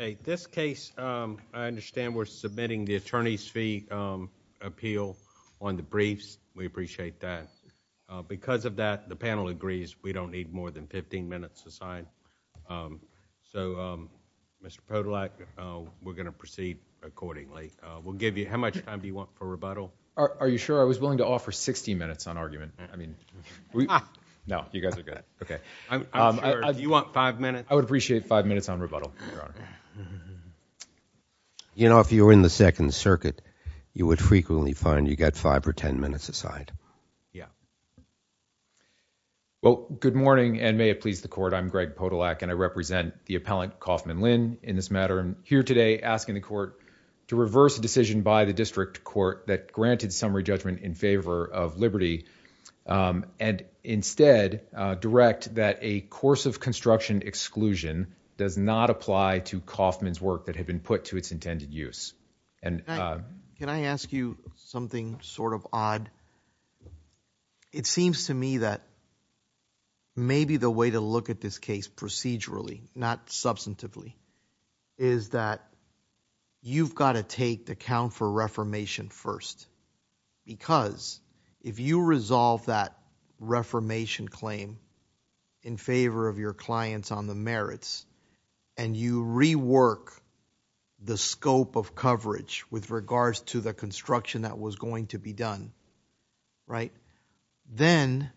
Okay. This case, I understand we're submitting the attorney's fee appeal on the briefs. We appreciate that. Because of that, the panel agrees we don't need more than 15 minutes to sign. So, Mr. Podolak, we're going to proceed accordingly. We'll give you... how much time do you want for rebuttal? Are you sure? I was willing to offer 60 minutes on argument. I mean, we... no, you guys are good. Okay. I'm sure... Do you want five minutes? I would appreciate five minutes on rebuttal, Your Honor. You know, if you were in the Second Circuit, you would frequently find you get five or ten minutes a side. Yeah. Well, good morning, and may it please the Court. I'm Greg Podolak, and I represent the appellant, Kaufman Lynn, in this matter. I'm here today asking the Court to reverse a decision by the District Court that granted summary judgment in favor of liberty, and instead direct that a course of construction exclusion does not apply to Kaufman's work that had been put to its intended use. And... Can I ask you something sort of odd? It seems to me that maybe the way to look at this case procedurally, not substantively, is that you've got to take the count for reformation first, because if you resolve that reformation claim in favor of your clients on the merits, and you rework the scope of coverage with regards to the construction that was going to be done, right, then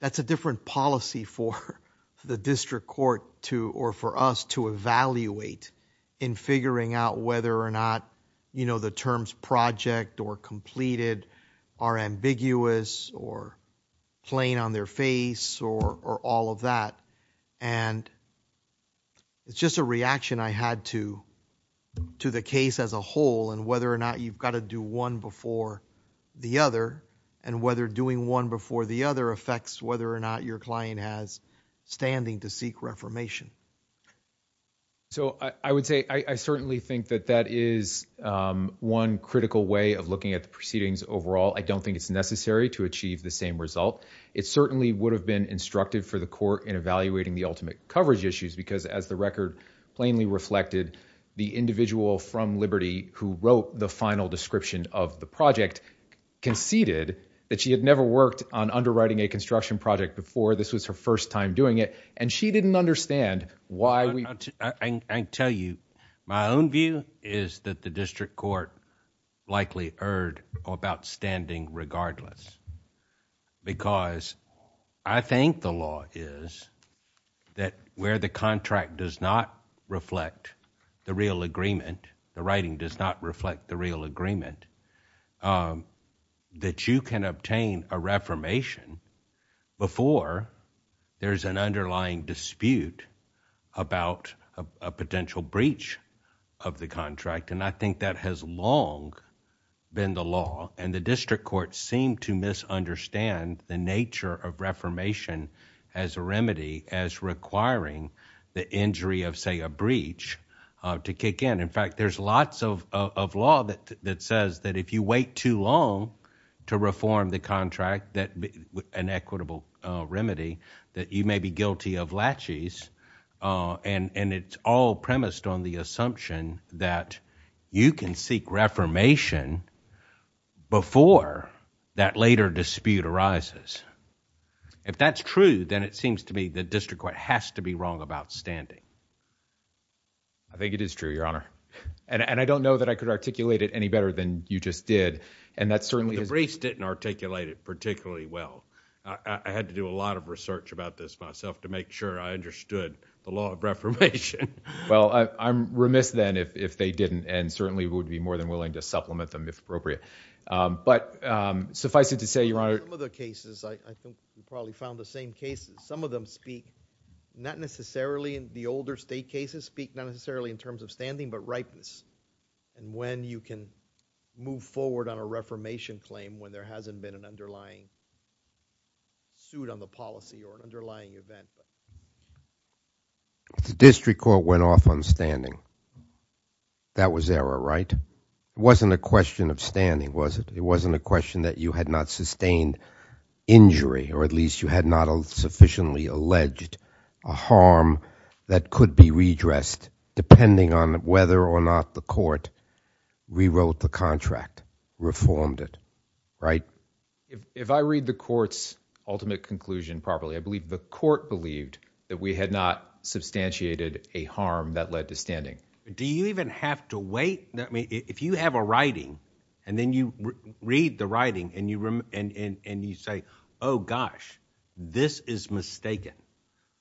that's a different policy for the District Court to... or for us to evaluate in figuring out whether or not, you know, the terms project or completed are ambiguous or plain on their face or all of that. And it's just a reaction I had to the case as a whole, and whether or not you've got to do one before the other, and whether doing one before the other affects whether or not your client has standing to seek reformation. So, I would say I certainly think that that is one critical way of looking at the proceedings overall. I don't think it's necessary to achieve the same result. It certainly would have been instructive for the Court in evaluating the ultimate coverage issues, because as the record plainly reflected, the individual from Liberty who wrote the final description of the project conceded that she had never worked on underwriting a construction project before. This was her first time doing it. And she didn't understand why we... I tell you, my own view is that the District Court likely erred about standing regardless. Because I think the law is that where the contract does not reflect the real agreement, the writing does not reflect the real agreement, that you can obtain a reformation before there's an underlying dispute about a potential breach of the contract. And I think that has long been the law, and the District Court seemed to misunderstand the nature of reformation as a remedy, as requiring the injury of, say, a breach to kick in. In fact, there's lots of law that says that if you wait too long to reform the contract, an equitable remedy, that you may be guilty of laches, and it's all premised on the assumption that you can seek reformation before that later dispute arises. If that's true, then it seems to me the District Court has to be wrong about standing. I think it is true, Your Honor. And I don't know that I could articulate it any better than you just did. And that certainly... I didn't articulate it particularly well. I had to do a lot of research about this myself to make sure I understood the law of reformation. Well, I'm remiss then if they didn't, and certainly would be more than willing to supplement them if appropriate. But suffice it to say, Your Honor... In some of the cases, I think we probably found the same cases. Some of them speak, not necessarily in the older state cases, speak not necessarily in terms of standing, but ripeness, and when you can move forward on a reformation claim when there hasn't been an underlying suit on the policy or an underlying event. The District Court went off on standing. That was error, right? It wasn't a question of standing, was it? It wasn't a question that you had not sustained injury, or at least you had not sufficiently alleged a harm that could be redressed depending on whether or not the court rewrote the contract, reformed it, right? If I read the court's ultimate conclusion properly, I believe the court believed that we had not substantiated a harm that led to standing. Do you even have to wait? If you have a writing, and then you read the writing, and you say, Oh, gosh, this is mistaken,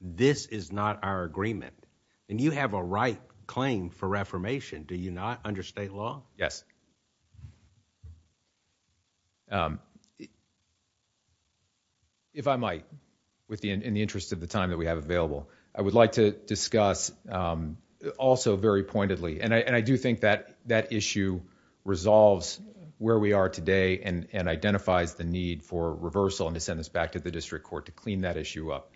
this is not our agreement, and you have a right claim for reformation, do you not under state law? Yes. If I might, in the interest of the time that we have available, I would like to discuss also very pointedly, and I do think that issue resolves where we are today and identifies the need for reversal and to send this back to the District Court to clean that issue up.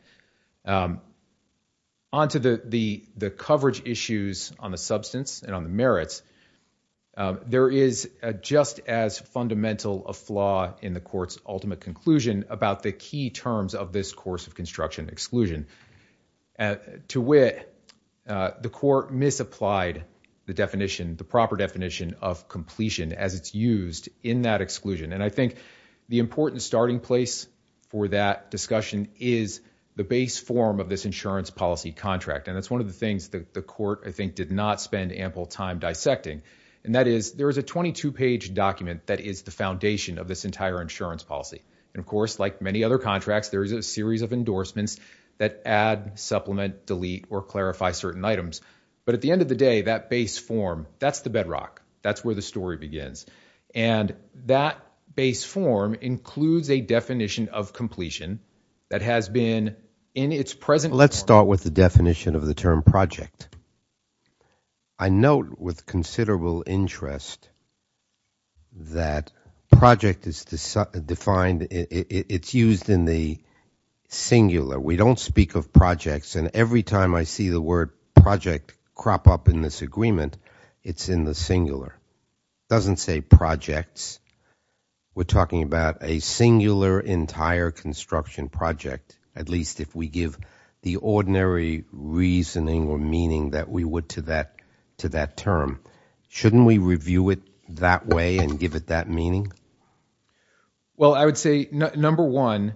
Onto the coverage issues on the substance and on the merits, there is just as fundamental a flaw in the court's ultimate conclusion about the key terms of this course of construction exclusion. To wit, the court misapplied the definition, the proper definition of completion as it's used in that exclusion. I think the important starting place for that discussion is the base form of this insurance policy contract. That's one of the things that the court, I think, did not spend ample time dissecting. That is, there is a 22-page document that is the foundation of this entire insurance policy. Of course, like many other contracts, there is a series of endorsements that add, supplement, delete, or clarify certain items. At the end of the day, that base form, that's the bedrock. That's where the story begins. That base form includes a definition of completion that has been in its present form. Let's start with the definition of the term project. I note with considerable interest that project is defined, it's used in the singular. We don't speak of projects, and every time I see the word project crop up in this agreement, it's in the singular. It doesn't say projects. We're talking about a singular entire construction project, at least if we give the ordinary reasoning or meaning that we would to that term. Shouldn't we review it that way and give it that meaning? Well, I would say, number one,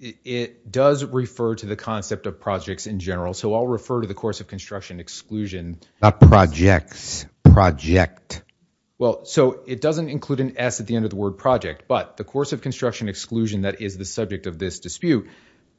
it does refer to the concept of projects in general, so I'll refer to the course of construction exclusion. Not projects, project. Well, so it doesn't include an S at the end of the word project, but the course of construction exclusion that is the subject of this dispute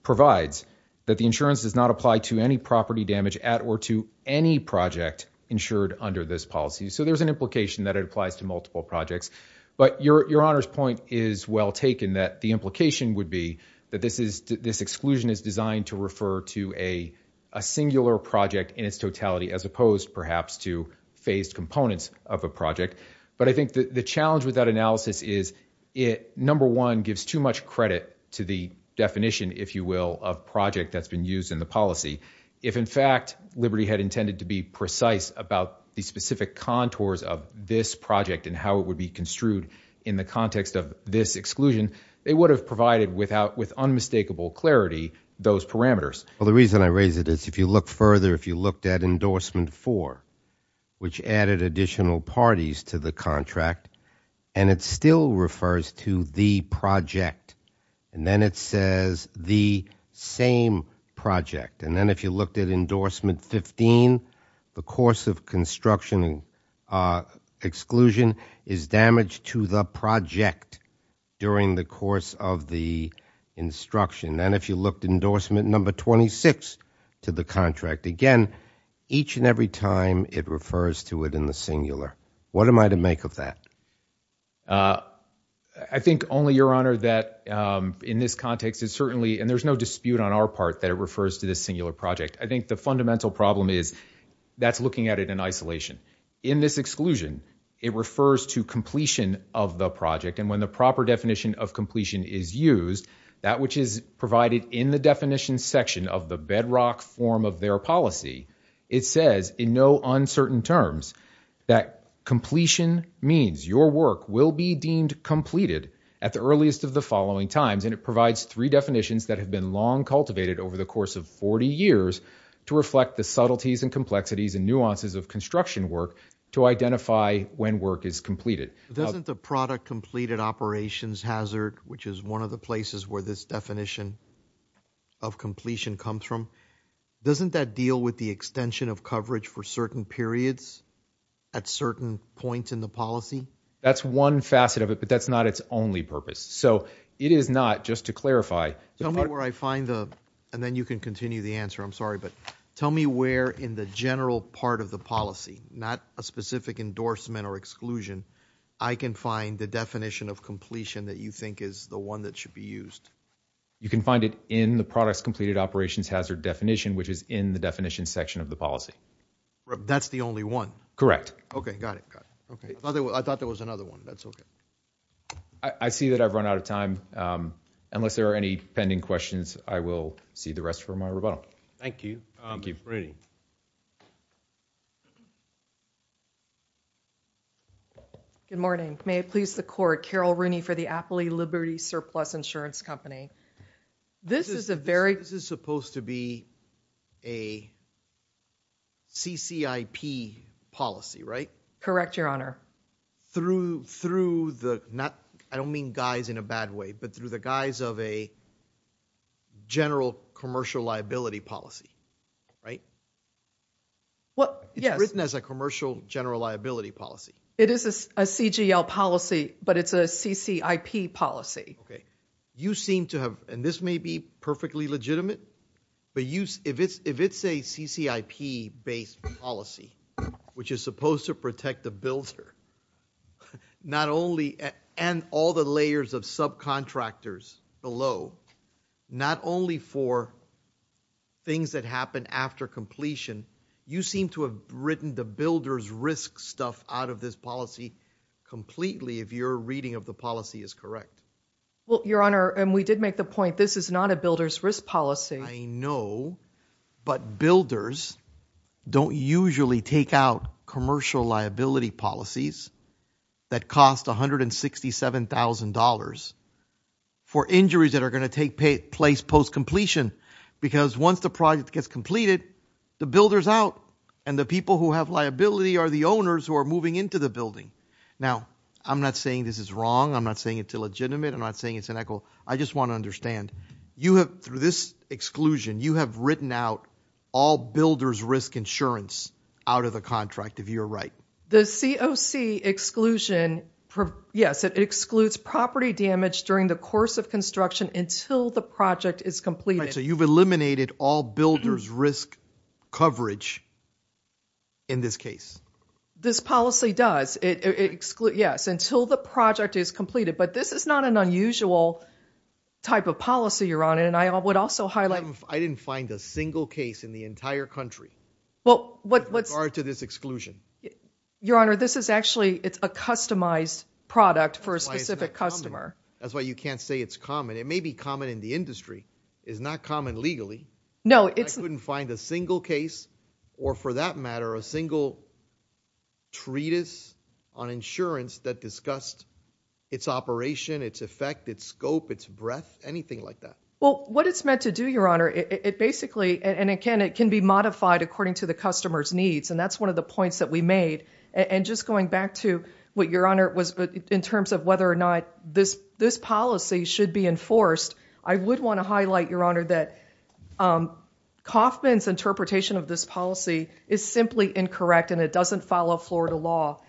provides that the insurance does not apply to any property damage at or to any project insured under this policy. So there's an implication that it applies to multiple projects, but Your Honor's point is well taken, that the implication would be that this exclusion is designed to refer to a singular project in its totality as opposed perhaps to phased components of a But I think the challenge with that analysis is it, number one, gives too much credit to the definition, if you will, of project that's been used in the policy. If in fact Liberty had intended to be precise about the specific contours of this project and how it would be construed in the context of this exclusion, they would have provided with unmistakable clarity those parameters. Well, the reason I raise it is if you look further, if you looked at endorsement four, which added additional parties to the contract, and it still refers to the project, and then it says the same project. And then if you looked at endorsement 15, the course of construction exclusion is damaged to the project during the course of the instruction. And if you looked at endorsement number 26 to the contract, again, each and every time it refers to it in the singular. What am I to make of that? I think only, Your Honor, that in this context it certainly, and there's no dispute on our part that it refers to this singular project. I think the fundamental problem is that's looking at it in isolation. In this exclusion, it refers to completion of the project, and when the proper definition of completion is used, that which is provided in the definition section of the bedrock form of their policy, it says in no uncertain terms that completion means your work will be deemed completed at the earliest of the following times, and it provides three definitions that have been long cultivated over the course of 40 years to reflect the subtleties and complexities and nuances of construction work to identify when work is completed. Doesn't the product completed operations hazard, which is one of the places where this definition of completion comes from, doesn't that deal with the extension of coverage for certain periods at certain points in the policy? That's one facet of it, but that's not its only purpose. So it is not, just to clarify. Tell me where I find the, and then you can continue the answer, I'm sorry, but tell me where in the general part of the policy, not a specific endorsement or exclusion, I can find the definition of completion that you think is the one that should be used. You can find it in the products completed operations hazard definition, which is in the definition section of the policy. That's the only one? Correct. Okay. Got it. I thought there was another one. That's okay. I see that I've run out of time. Unless there are any pending questions, I will see the rest for my rebuttal. Thank you. Thank you. Thank you. Good morning. May it please the court, Carol Rooney for the Apley Liberty Surplus Insurance Company. This is a very- This is supposed to be a CCIP policy, right? Correct, your honor. Through the, I don't mean guise in a bad way, but through the guise of a general commercial liability policy, right? Yes. It's written as a commercial general liability policy. It is a CGL policy, but it's a CCIP policy. Okay. You seem to have, and this may be perfectly legitimate, but if it's a CCIP based policy, which is supposed to protect the builder, not only, and all the layers of subcontractors below, not only for things that happen after completion, you seem to have written the builder's risk stuff out of this policy completely, if your reading of the policy is correct. Well, your honor, and we did make the point, this is not a builder's risk policy. I know, but builders don't usually take out commercial liability policies that cost $167,000 for injuries that are going to take place post-completion, because once the project gets completed, the builder's out, and the people who have liability are the owners who are moving into the building. Now, I'm not saying this is wrong, I'm not saying it's illegitimate, I'm not saying it's an echo, I just want to understand, you have, through this exclusion, you have written out all builder's risk insurance out of the contract, if you're right. The COC exclusion, yes, it excludes property damage during the course of construction until the project is completed. Right, so you've eliminated all builder's risk coverage in this case. This policy does, it excludes, yes, until the project is completed, but this is not an unusual type of policy, your honor, and I would also highlight... I didn't find a single case in the entire country with regard to this exclusion. Your honor, this is actually, it's a customized product for a specific customer. That's why you can't say it's common, it may be common in the industry, it's not common legally. No, it's... I couldn't find a single case, or for that matter, a single treatise on insurance that discussed it's operation, it's effect, it's scope, it's breadth, anything like that. Well, what it's meant to do, your honor, it basically, and it can be modified according to the customer's needs, and that's one of the points that we made, and just going back to what your honor was, in terms of whether or not this policy should be enforced, I would want to highlight, your honor, that Kaufman's interpretation of this policy is simply incorrect and it doesn't follow Florida law.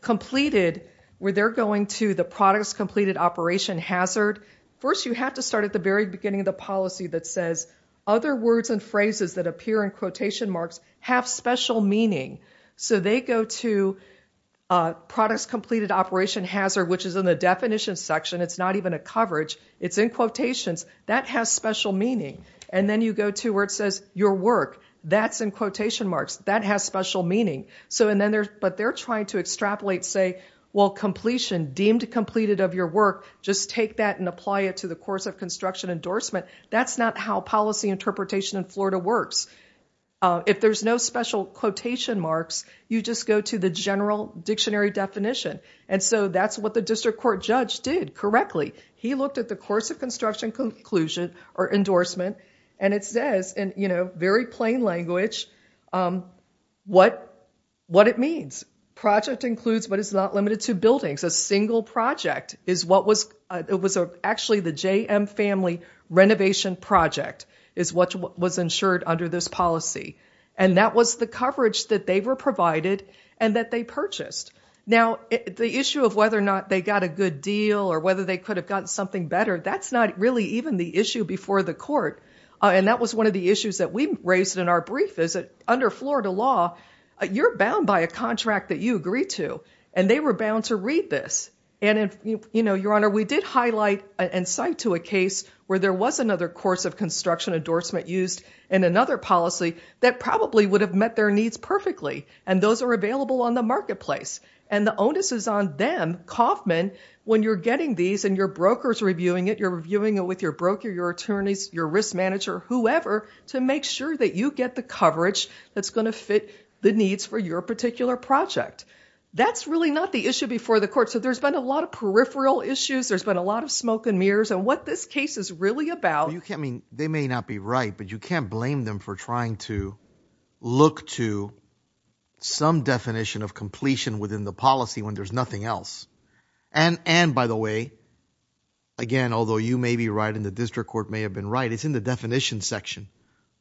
Completed where they're going to the product's completed operation hazard, first you have to start at the very beginning of the policy that says, other words and phrases that appear in quotation marks have special meaning. So they go to product's completed operation hazard, which is in the definition section, it's not even a coverage, it's in quotations, that has special meaning. And then you go to where it says, your work, that's in quotation marks, that has special meaning. But they're trying to extrapolate, say, well, completion, deemed completed of your work, just take that and apply it to the course of construction endorsement, that's not how policy interpretation in Florida works. If there's no special quotation marks, you just go to the general dictionary definition. And so that's what the district court judge did correctly. He looked at the course of construction conclusion, or endorsement, and it says, in very plain language, what it means. Project includes, but it's not limited to, buildings. A single project is what was, it was actually the JM family renovation project is what was insured under this policy. And that was the coverage that they were provided and that they purchased. Now the issue of whether or not they got a good deal, or whether they could have gotten something better, that's not really even the issue before the court. And that was one of the issues that we raised in our brief, is that under Florida law, you're bound by a contract that you agree to. And they were bound to read this. And if, you know, your honor, we did highlight and cite to a case where there was another course of construction endorsement used in another policy that probably would have met their needs perfectly. And those are available on the marketplace. And the onus is on them, Kauffman, when you're getting these and your broker's reviewing it, you're reviewing it with your broker, your attorneys, your risk manager, whoever, to make sure that you get the coverage that's going to fit the needs for your particular project. That's really not the issue before the court. So there's been a lot of peripheral issues. There's been a lot of smoke and mirrors. And what this case is really about... You can't mean, they may not be right, but you can't blame them for trying to look to some definition of completion within the policy when there's nothing else. And by the way, again, although you may be right and the district court may have been right, it's in the definition section.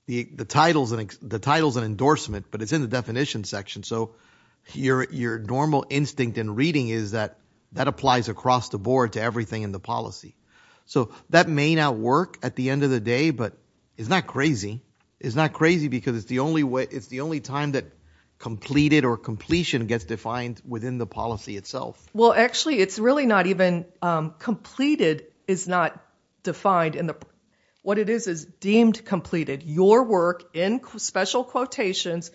The title's an endorsement, but it's in the definition section. So your normal instinct in reading is that that applies across the board to everything in the policy. So that may not work at the end of the day, but it's not crazy. It's not crazy because it's the only time that completed or completion gets defined within the policy itself. Well, actually, it's really not even... Completed is not defined in the... What it is is deemed completed. Your work in special quotations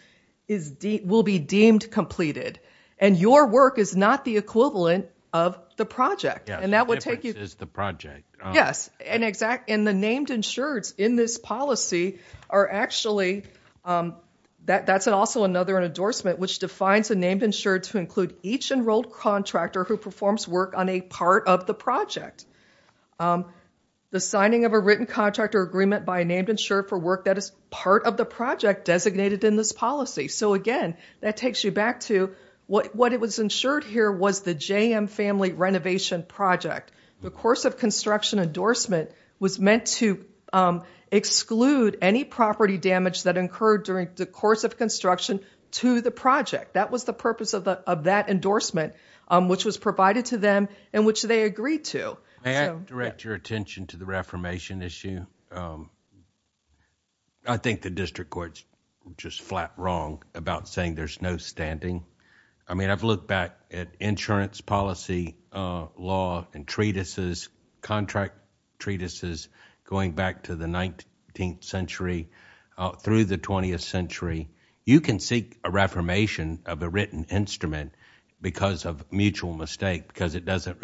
will be deemed completed. And your work is not the equivalent of the project. And that would take you... The difference is the project. Yes. And the named insureds in this policy are actually... That's also another endorsement, which defines a named insured to include each enrolled contractor who performs work on a part of the project. The signing of a written contract or agreement by a named insured for work that is part of the project designated in this policy. So again, that takes you back to what it was insured here was the JM Family Renovation Project. The course of construction endorsement was meant to exclude any property damage that incurred during the course of construction to the project. That was the purpose of that endorsement, which was provided to them and which they agreed to. May I direct your attention to the reformation issue? I think the district court's just flat wrong about saying there's no standing. I mean, I've looked back at insurance policy, law, and treatises, contract treatises, going back to the 19th century through the 20th century. You can seek a reformation of a written instrument because of mutual mistake because it doesn't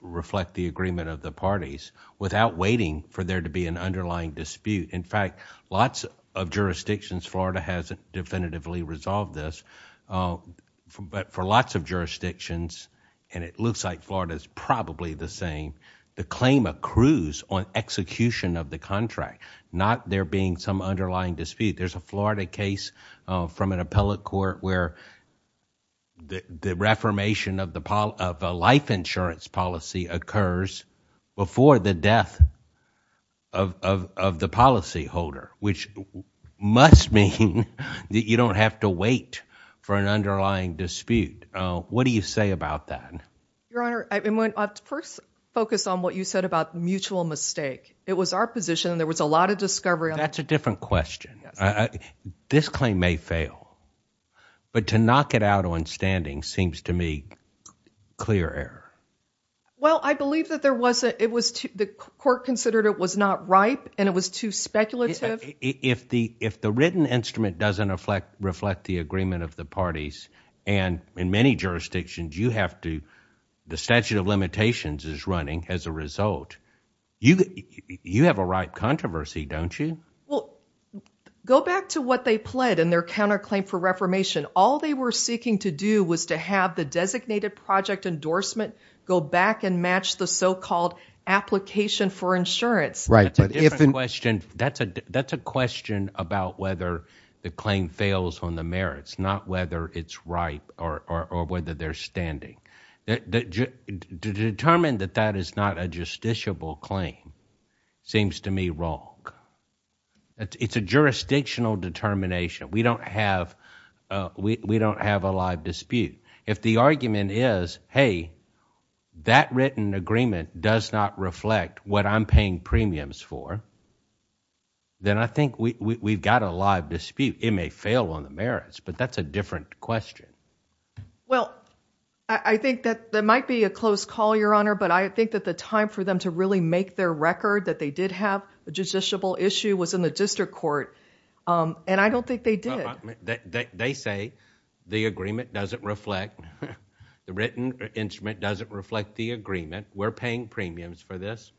reflect the agreement of the parties without waiting for there to be an underlying dispute. In fact, lots of jurisdictions, Florida has definitively resolved this, but for lots of jurisdictions, and it looks like Florida's probably the same, the claim accrues on execution of the contract, not there being some underlying dispute. There's a Florida case from an appellate court where the reformation of a life insurance policy occurs before the death of the policyholder, which must mean that you don't have to wait for an underlying dispute. What do you say about that? Your Honor, I first focused on what you said about mutual mistake. It was our position. There was a lot of discovery. That's a different question. This claim may fail, but to knock it out on standing seems to me clear error. Well, I believe that the court considered it was not ripe and it was too speculative. If the written instrument doesn't reflect the agreement of the parties, and in many jurisdictions you have to, the statute of limitations is running as a result. You have a ripe controversy, don't you? Go back to what they pled in their counterclaim for reformation. All they were seeking to do was to have the designated project endorsement go back and match the so-called application for insurance. Right. That's a different question. That's a question about whether the claim fails on the merits, not whether it's ripe or whether they're standing. To determine that that is not a justiciable claim seems to me wrong. It's a jurisdictional determination. We don't have a live dispute. If the argument is, hey, that written agreement does not reflect what I'm paying premiums for, then I think we've got a live dispute. It may fail on the merits, but that's a different question. Well, I think that there might be a close call, Your Honor, but I think that the time for them to really make their record that they did have a justiciable issue was in the district court, and I don't think they did. They say the agreement doesn't reflect, the written instrument doesn't reflect the agreement. We're paying premiums for this.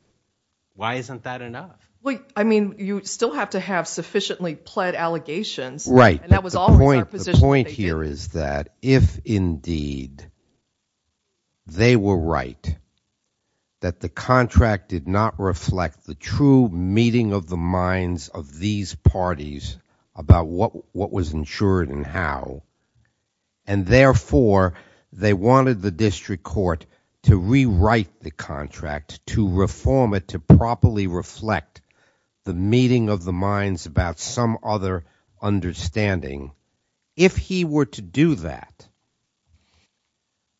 Why isn't that enough? Well, I mean, you still have to have sufficiently pled allegations, and that was always our position. The point here is that if indeed they were right, that the contract did not reflect the true meeting of the minds of these parties about what was insured and how, and therefore they wanted the district court to rewrite the contract, to reform it, to properly reflect the meeting of the minds about some other understanding. If he were to do that,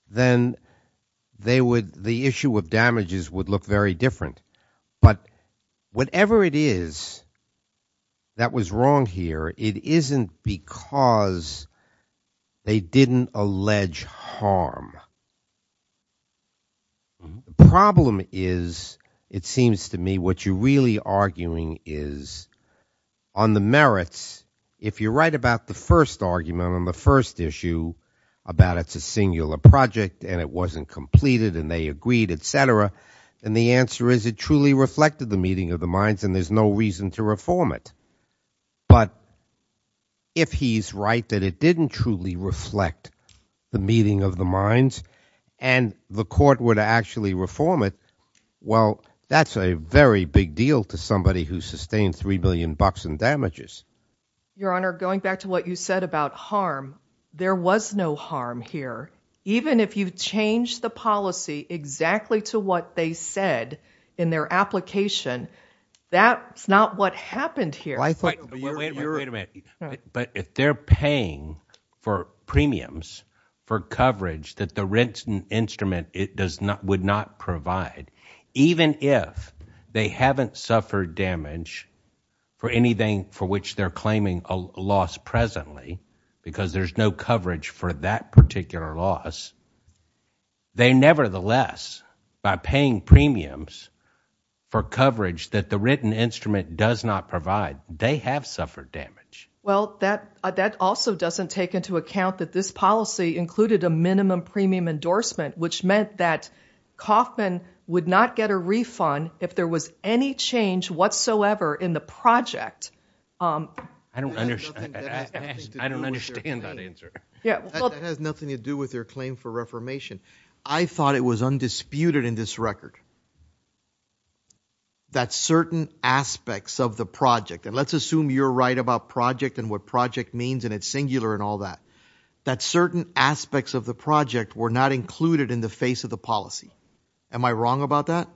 then they would, the issue of damages would look very different. But whatever it is that was wrong here, it isn't because they didn't allege harm. The problem is, it seems to me, what you're really arguing is on the merits, if you're right about the first argument on the first issue about it's a singular project and it wasn't completed and they agreed, et cetera, then the answer is it truly reflected the meeting of the minds and there's no reason to reform it. But if he's right that it didn't truly reflect the meeting of the minds and the court would actually reform it, well, that's a very big deal to somebody who sustained 3 million bucks in damages. Your Honor, going back to what you said about harm, there was no harm here. Even if you change the policy exactly to what they said in their application, that's not what happened here. Wait a minute. But if they're paying for premiums for coverage that the written instrument would not provide, even if they haven't suffered damage for anything for which they're claiming a loss presently because there's no coverage for that particular loss, they nevertheless, by paying premiums for coverage that the written instrument does not provide, they have suffered damage. Well, that also doesn't take into account that this policy included a minimum premium endorsement which meant that Kauffman would not get a refund if there was any change whatsoever in the project. I don't understand that answer. It has nothing to do with their claim for reformation. I thought it was undisputed in this record that certain aspects of the project, and let's assume you're right about project and what project means and it's singular and all that, that certain aspects of the project were not included in the face of the policy. Am I wrong about that?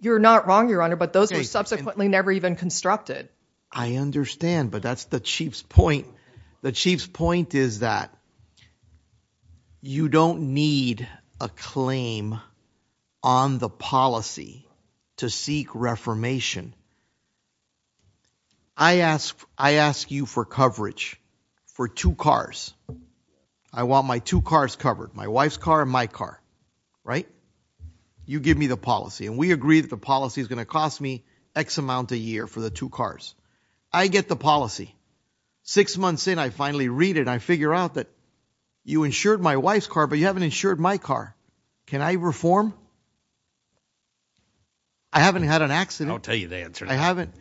You're not wrong, Your Honor, but those were subsequently never even constructed. I understand, but that's the Chief's point. The Chief's point is that you don't need a claim on the policy to seek reformation. I ask you for coverage for two cars. I want my two cars covered, my wife's car and my car, right? You give me the policy and we agree that the policy is going to cost me X amount a year for the two cars. I get the policy. Six months in, I finally read it. I figure out that you insured my wife's car, but you haven't insured my car. Can I reform? I haven't had an accident. I'll tell you the answer. I haven't.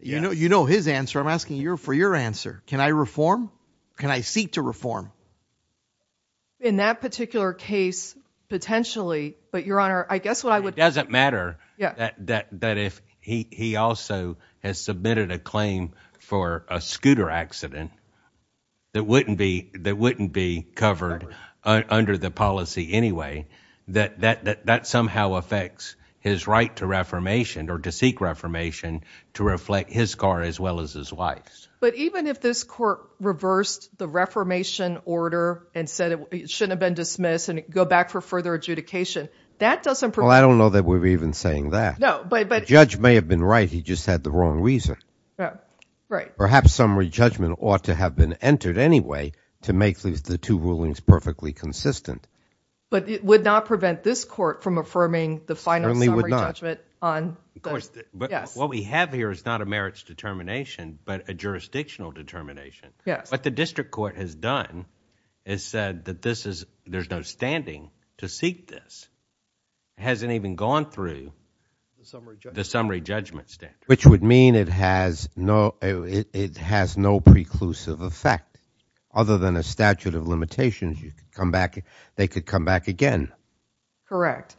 You know his answer. I'm asking for your answer. Can I reform? Can I seek to reform? In that particular case, potentially, but, Your Honor, I guess what I would- It doesn't matter that if he also has submitted a claim for a scooter accident that wouldn't be covered under the policy anyway. That somehow affects his right to reformation or to seek reformation to reflect his car as well as his wife's. But even if this court reversed the reformation order and said it shouldn't have been dismissed and go back for further adjudication, that doesn't- Well, I don't know that we're even saying that. No, but- The judge may have been right. He just had the wrong reason. Right. Right. Perhaps summary judgment ought to have been entered anyway to make the two rulings perfectly consistent. But it would not prevent this court from affirming the final summary judgment on- Yes. What we have here is not a merits determination, but a jurisdictional determination. Yes. What the district court has done is said that there's no standing to seek this. It hasn't even gone through the summary judgment standard. Which would mean it has no preclusive effect. Other than a statute of limitations, they could come back again. Correct.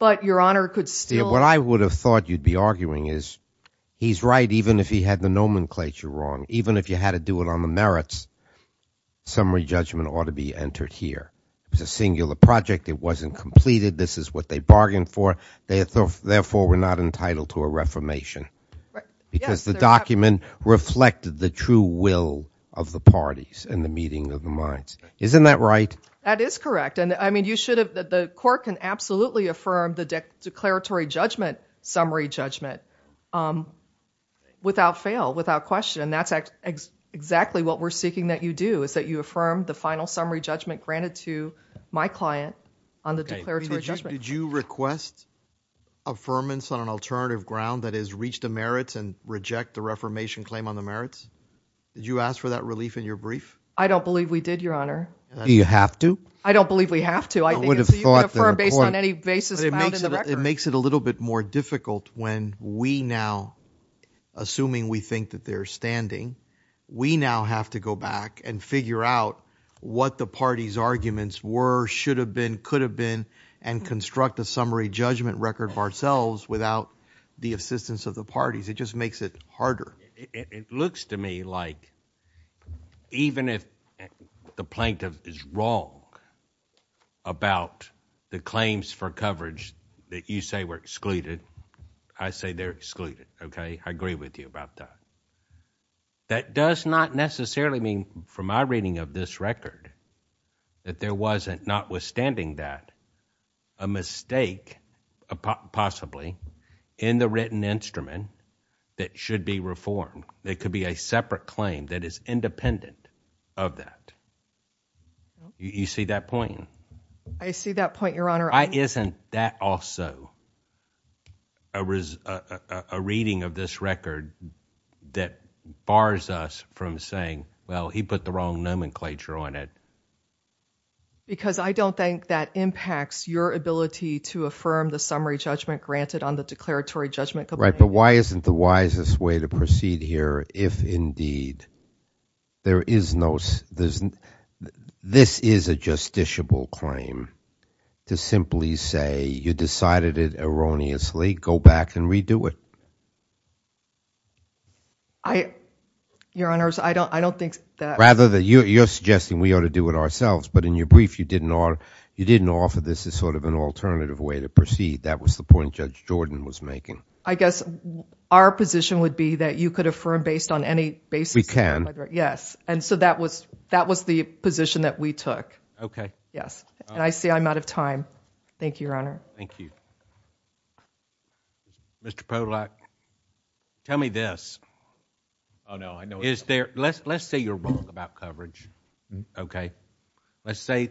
But Your Honor could still- What I would have thought you'd be arguing is he's right even if he had the nomenclature wrong. Even if you had to do it on the merits, summary judgment ought to be entered here. It was a singular project. It wasn't completed. This is what they bargained for. Therefore, we're not entitled to a reformation because the document reflected the true will of the parties in the meeting of the minds. Isn't that right? That is correct. I mean, you should have... The court can absolutely affirm the declaratory judgment summary judgment without fail, without question. That's exactly what we're seeking that you do is that you affirm the final summary judgment granted to my client on the declaratory judgment. Did you request affirmance on an alternative ground that has reached the merits and reject the reformation claim on the merits? Did you ask for that relief in your brief? I don't believe we did, Your Honor. Do you have to? I don't believe we have to. I think it's- I would have thought that a court- You can affirm based on any basis found in the record. It makes it a little bit more difficult when we now, assuming we think that they're standing, we now have to go back and figure out what the party's arguments were, should have been, could have been, and construct a summary judgment record of ourselves without the assistance of the parties. It just makes it harder. It looks to me like even if the plaintiff is wrong about the claims for coverage that you say were excluded, I say they're excluded. Okay? I agree with you about that. That does not necessarily mean, from my reading of this record, that there wasn't, notwithstanding that, a mistake, possibly, in the written instrument that should be reformed. It could be a separate claim that is independent of that. You see that point? I see that point, Your Honor. Isn't that also a reading of this record that bars us from saying, well, he put the wrong nomenclature on it? Because I don't think that impacts your ability to affirm the summary judgment granted on the declaratory judgment complaint. Right, but why isn't the wisest way to proceed here if, indeed, there is no- This is a justiciable claim to simply say, you decided it erroneously. Go back and redo it. Your Honors, I don't think that- Rather, you're suggesting we ought to do it ourselves, but in your brief, you didn't offer this as sort of an alternative way to proceed. That was the point Judge Jordan was making. I guess our position would be that you could affirm based on any basis- We can. Yes. That was the position that we took. Yes. I see I'm out of time. Thank you, Your Honor. Thank you. Mr. Podolak, tell me this. Let's say you're wrong about coverage, okay? Let's say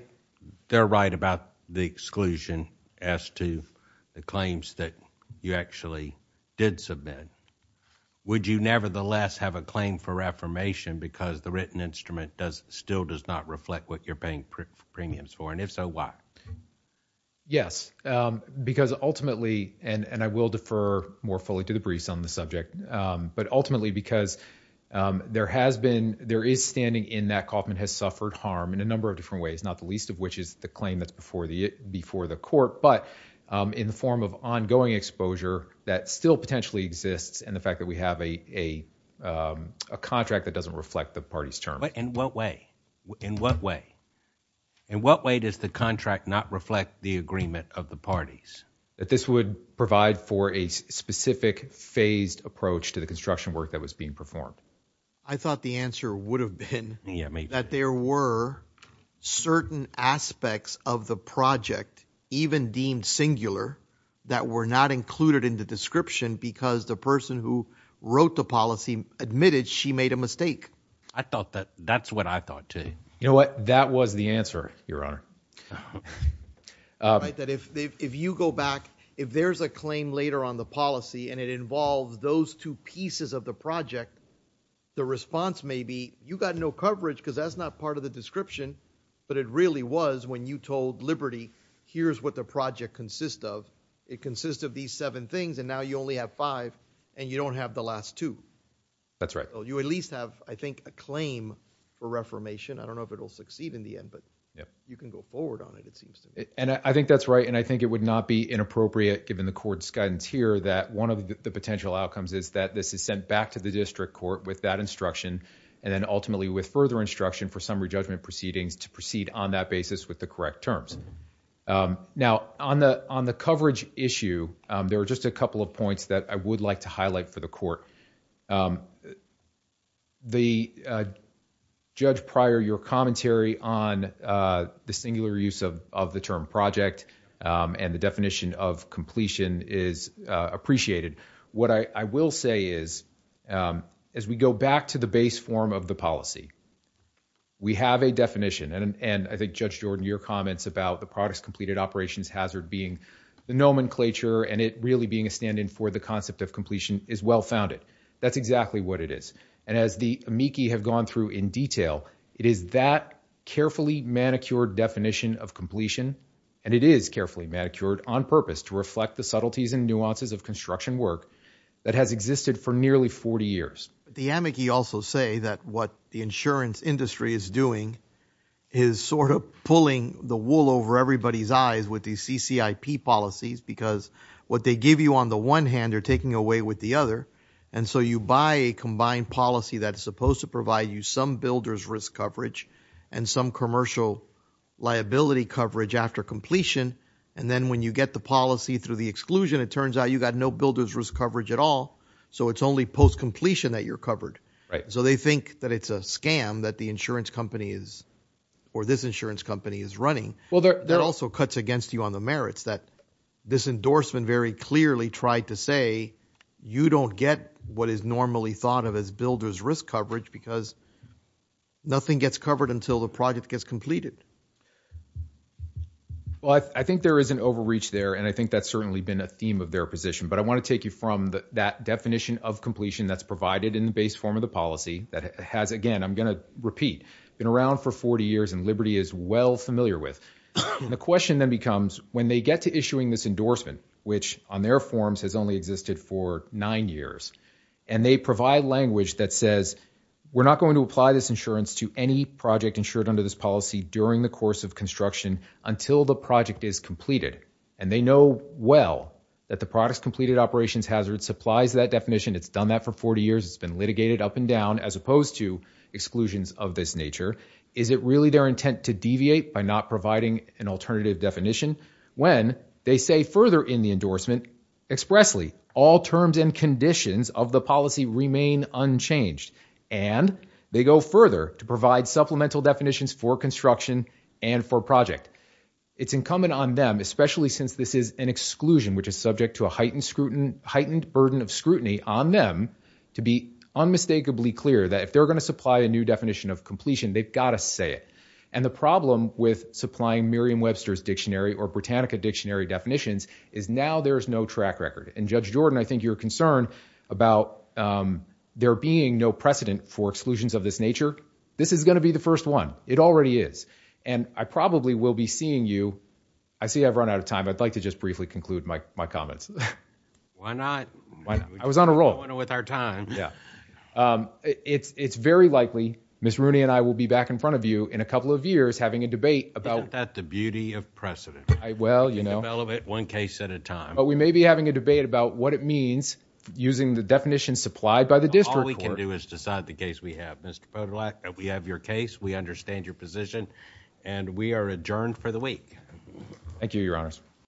they're right about the exclusion as to the claims that you actually did submit. Would you nevertheless have a claim for affirmation because the written instrument still does not reflect what you're paying premiums for, and if so, why? Yes, because ultimately, and I will defer more fully to the briefs on the subject, but ultimately because there is standing in that Kauffman has suffered harm in a number of different ways, not the least of which is the claim that's before the court, but in form of ongoing exposure that still potentially exists and the fact that we have a contract that doesn't reflect the party's terms. In what way? In what way? In what way does the contract not reflect the agreement of the parties? That this would provide for a specific phased approach to the construction work that was being performed. I thought the answer would have been that there were certain aspects of the project, even deemed singular, that were not included in the description because the person who wrote the policy admitted she made a mistake. I thought that, that's what I thought too. You know what? That was the answer, Your Honor. All right, that if you go back, if there's a claim later on the policy and it involves those two pieces of the project, the response may be, you got no coverage because that's not part of the description, but it really was when you told Liberty, here's what the project consists of. It consists of these seven things and now you only have five and you don't have the last two. That's right. So you at least have, I think, a claim for reformation. I don't know if it'll succeed in the end, but you can go forward on it, it seems. And I think that's right and I think it would not be inappropriate given the court's guidance here that one of the potential outcomes is that this is sent back to the district court with that instruction and then ultimately with further instruction for summary judgment proceedings to proceed on that basis with the correct terms. Now on the coverage issue, there were just a couple of points that I would like to highlight for the court. The judge prior your commentary on the singular use of the term project and the definition of completion is appreciated. What I will say is as we go back to the base form of the policy, we have a definition and I think Judge Jordan, your comments about the products completed operations hazard being the nomenclature and it really being a stand in for the concept of completion is well founded. That's exactly what it is. And as the amici have gone through in detail, it is that carefully manicured definition of completion and it is carefully manicured on purpose to reflect the subtleties and nuances of construction work that has existed for nearly 40 years. The amici also say that what the insurance industry is doing is sort of pulling the wool over everybody's eyes with the CCIP policies because what they give you on the one hand they're taking away with the other. And so you buy a combined policy that's supposed to provide you some builder's risk coverage and some commercial liability coverage after completion. And then when you get the policy through the exclusion, it turns out you got no builder's risk coverage at all. So it's only post-completion that you're covered. So they think that it's a scam that the insurance company is or this insurance company is running. Well, there are also cuts against you on the merits that this endorsement very clearly tried to say you don't get what is normally thought of as builder's risk coverage because nothing gets covered until the project gets completed. Well, I think there is an overreach there, and I think that's certainly been a theme of their position. But I want to take you from that definition of completion that's provided in the base form of the policy that has, again, I'm going to repeat, been around for 40 years and Liberty is well familiar with. And the question then becomes, when they get to issuing this endorsement, which on their forms has only existed for nine years, and they provide language that says, we're not going to apply this insurance to any project insured under this policy during the completion during the course of construction until the project is completed. And they know well that the product's completed operations hazard supplies that definition. It's done that for 40 years. It's been litigated up and down as opposed to exclusions of this nature. Is it really their intent to deviate by not providing an alternative definition? When they say further in the endorsement expressly, all terms and conditions of the policy remain unchanged. And they go further to provide supplemental definitions for construction and for project. It's incumbent on them, especially since this is an exclusion, which is subject to a heightened scrutiny, heightened burden of scrutiny on them to be unmistakably clear that if they're going to supply a new definition of completion, they've got to say it. And the problem with supplying Merriam-Webster's dictionary or Britannica dictionary definitions is now there is no track record. And Judge Jordan, I think you're concerned about there being no precedent for exclusions of this nature. This is going to be the first one. It already is. And I probably will be seeing you. I see I've run out of time. I'd like to just briefly conclude my comments. Why not? Why not? I was on a roll. We're going with our time. Yeah. It's very likely Ms. Rooney and I will be back in front of you in a couple of years having a debate about- Isn't that the beauty of precedent? Well, you know- We can develop it one case at a time. But we may be having a debate about what it means using the definition supplied by the district court. All we can do is decide the case we have. Mr. Podolak, we have your case. We understand your position. And we are adjourned for the week. Thank you, Your Honors.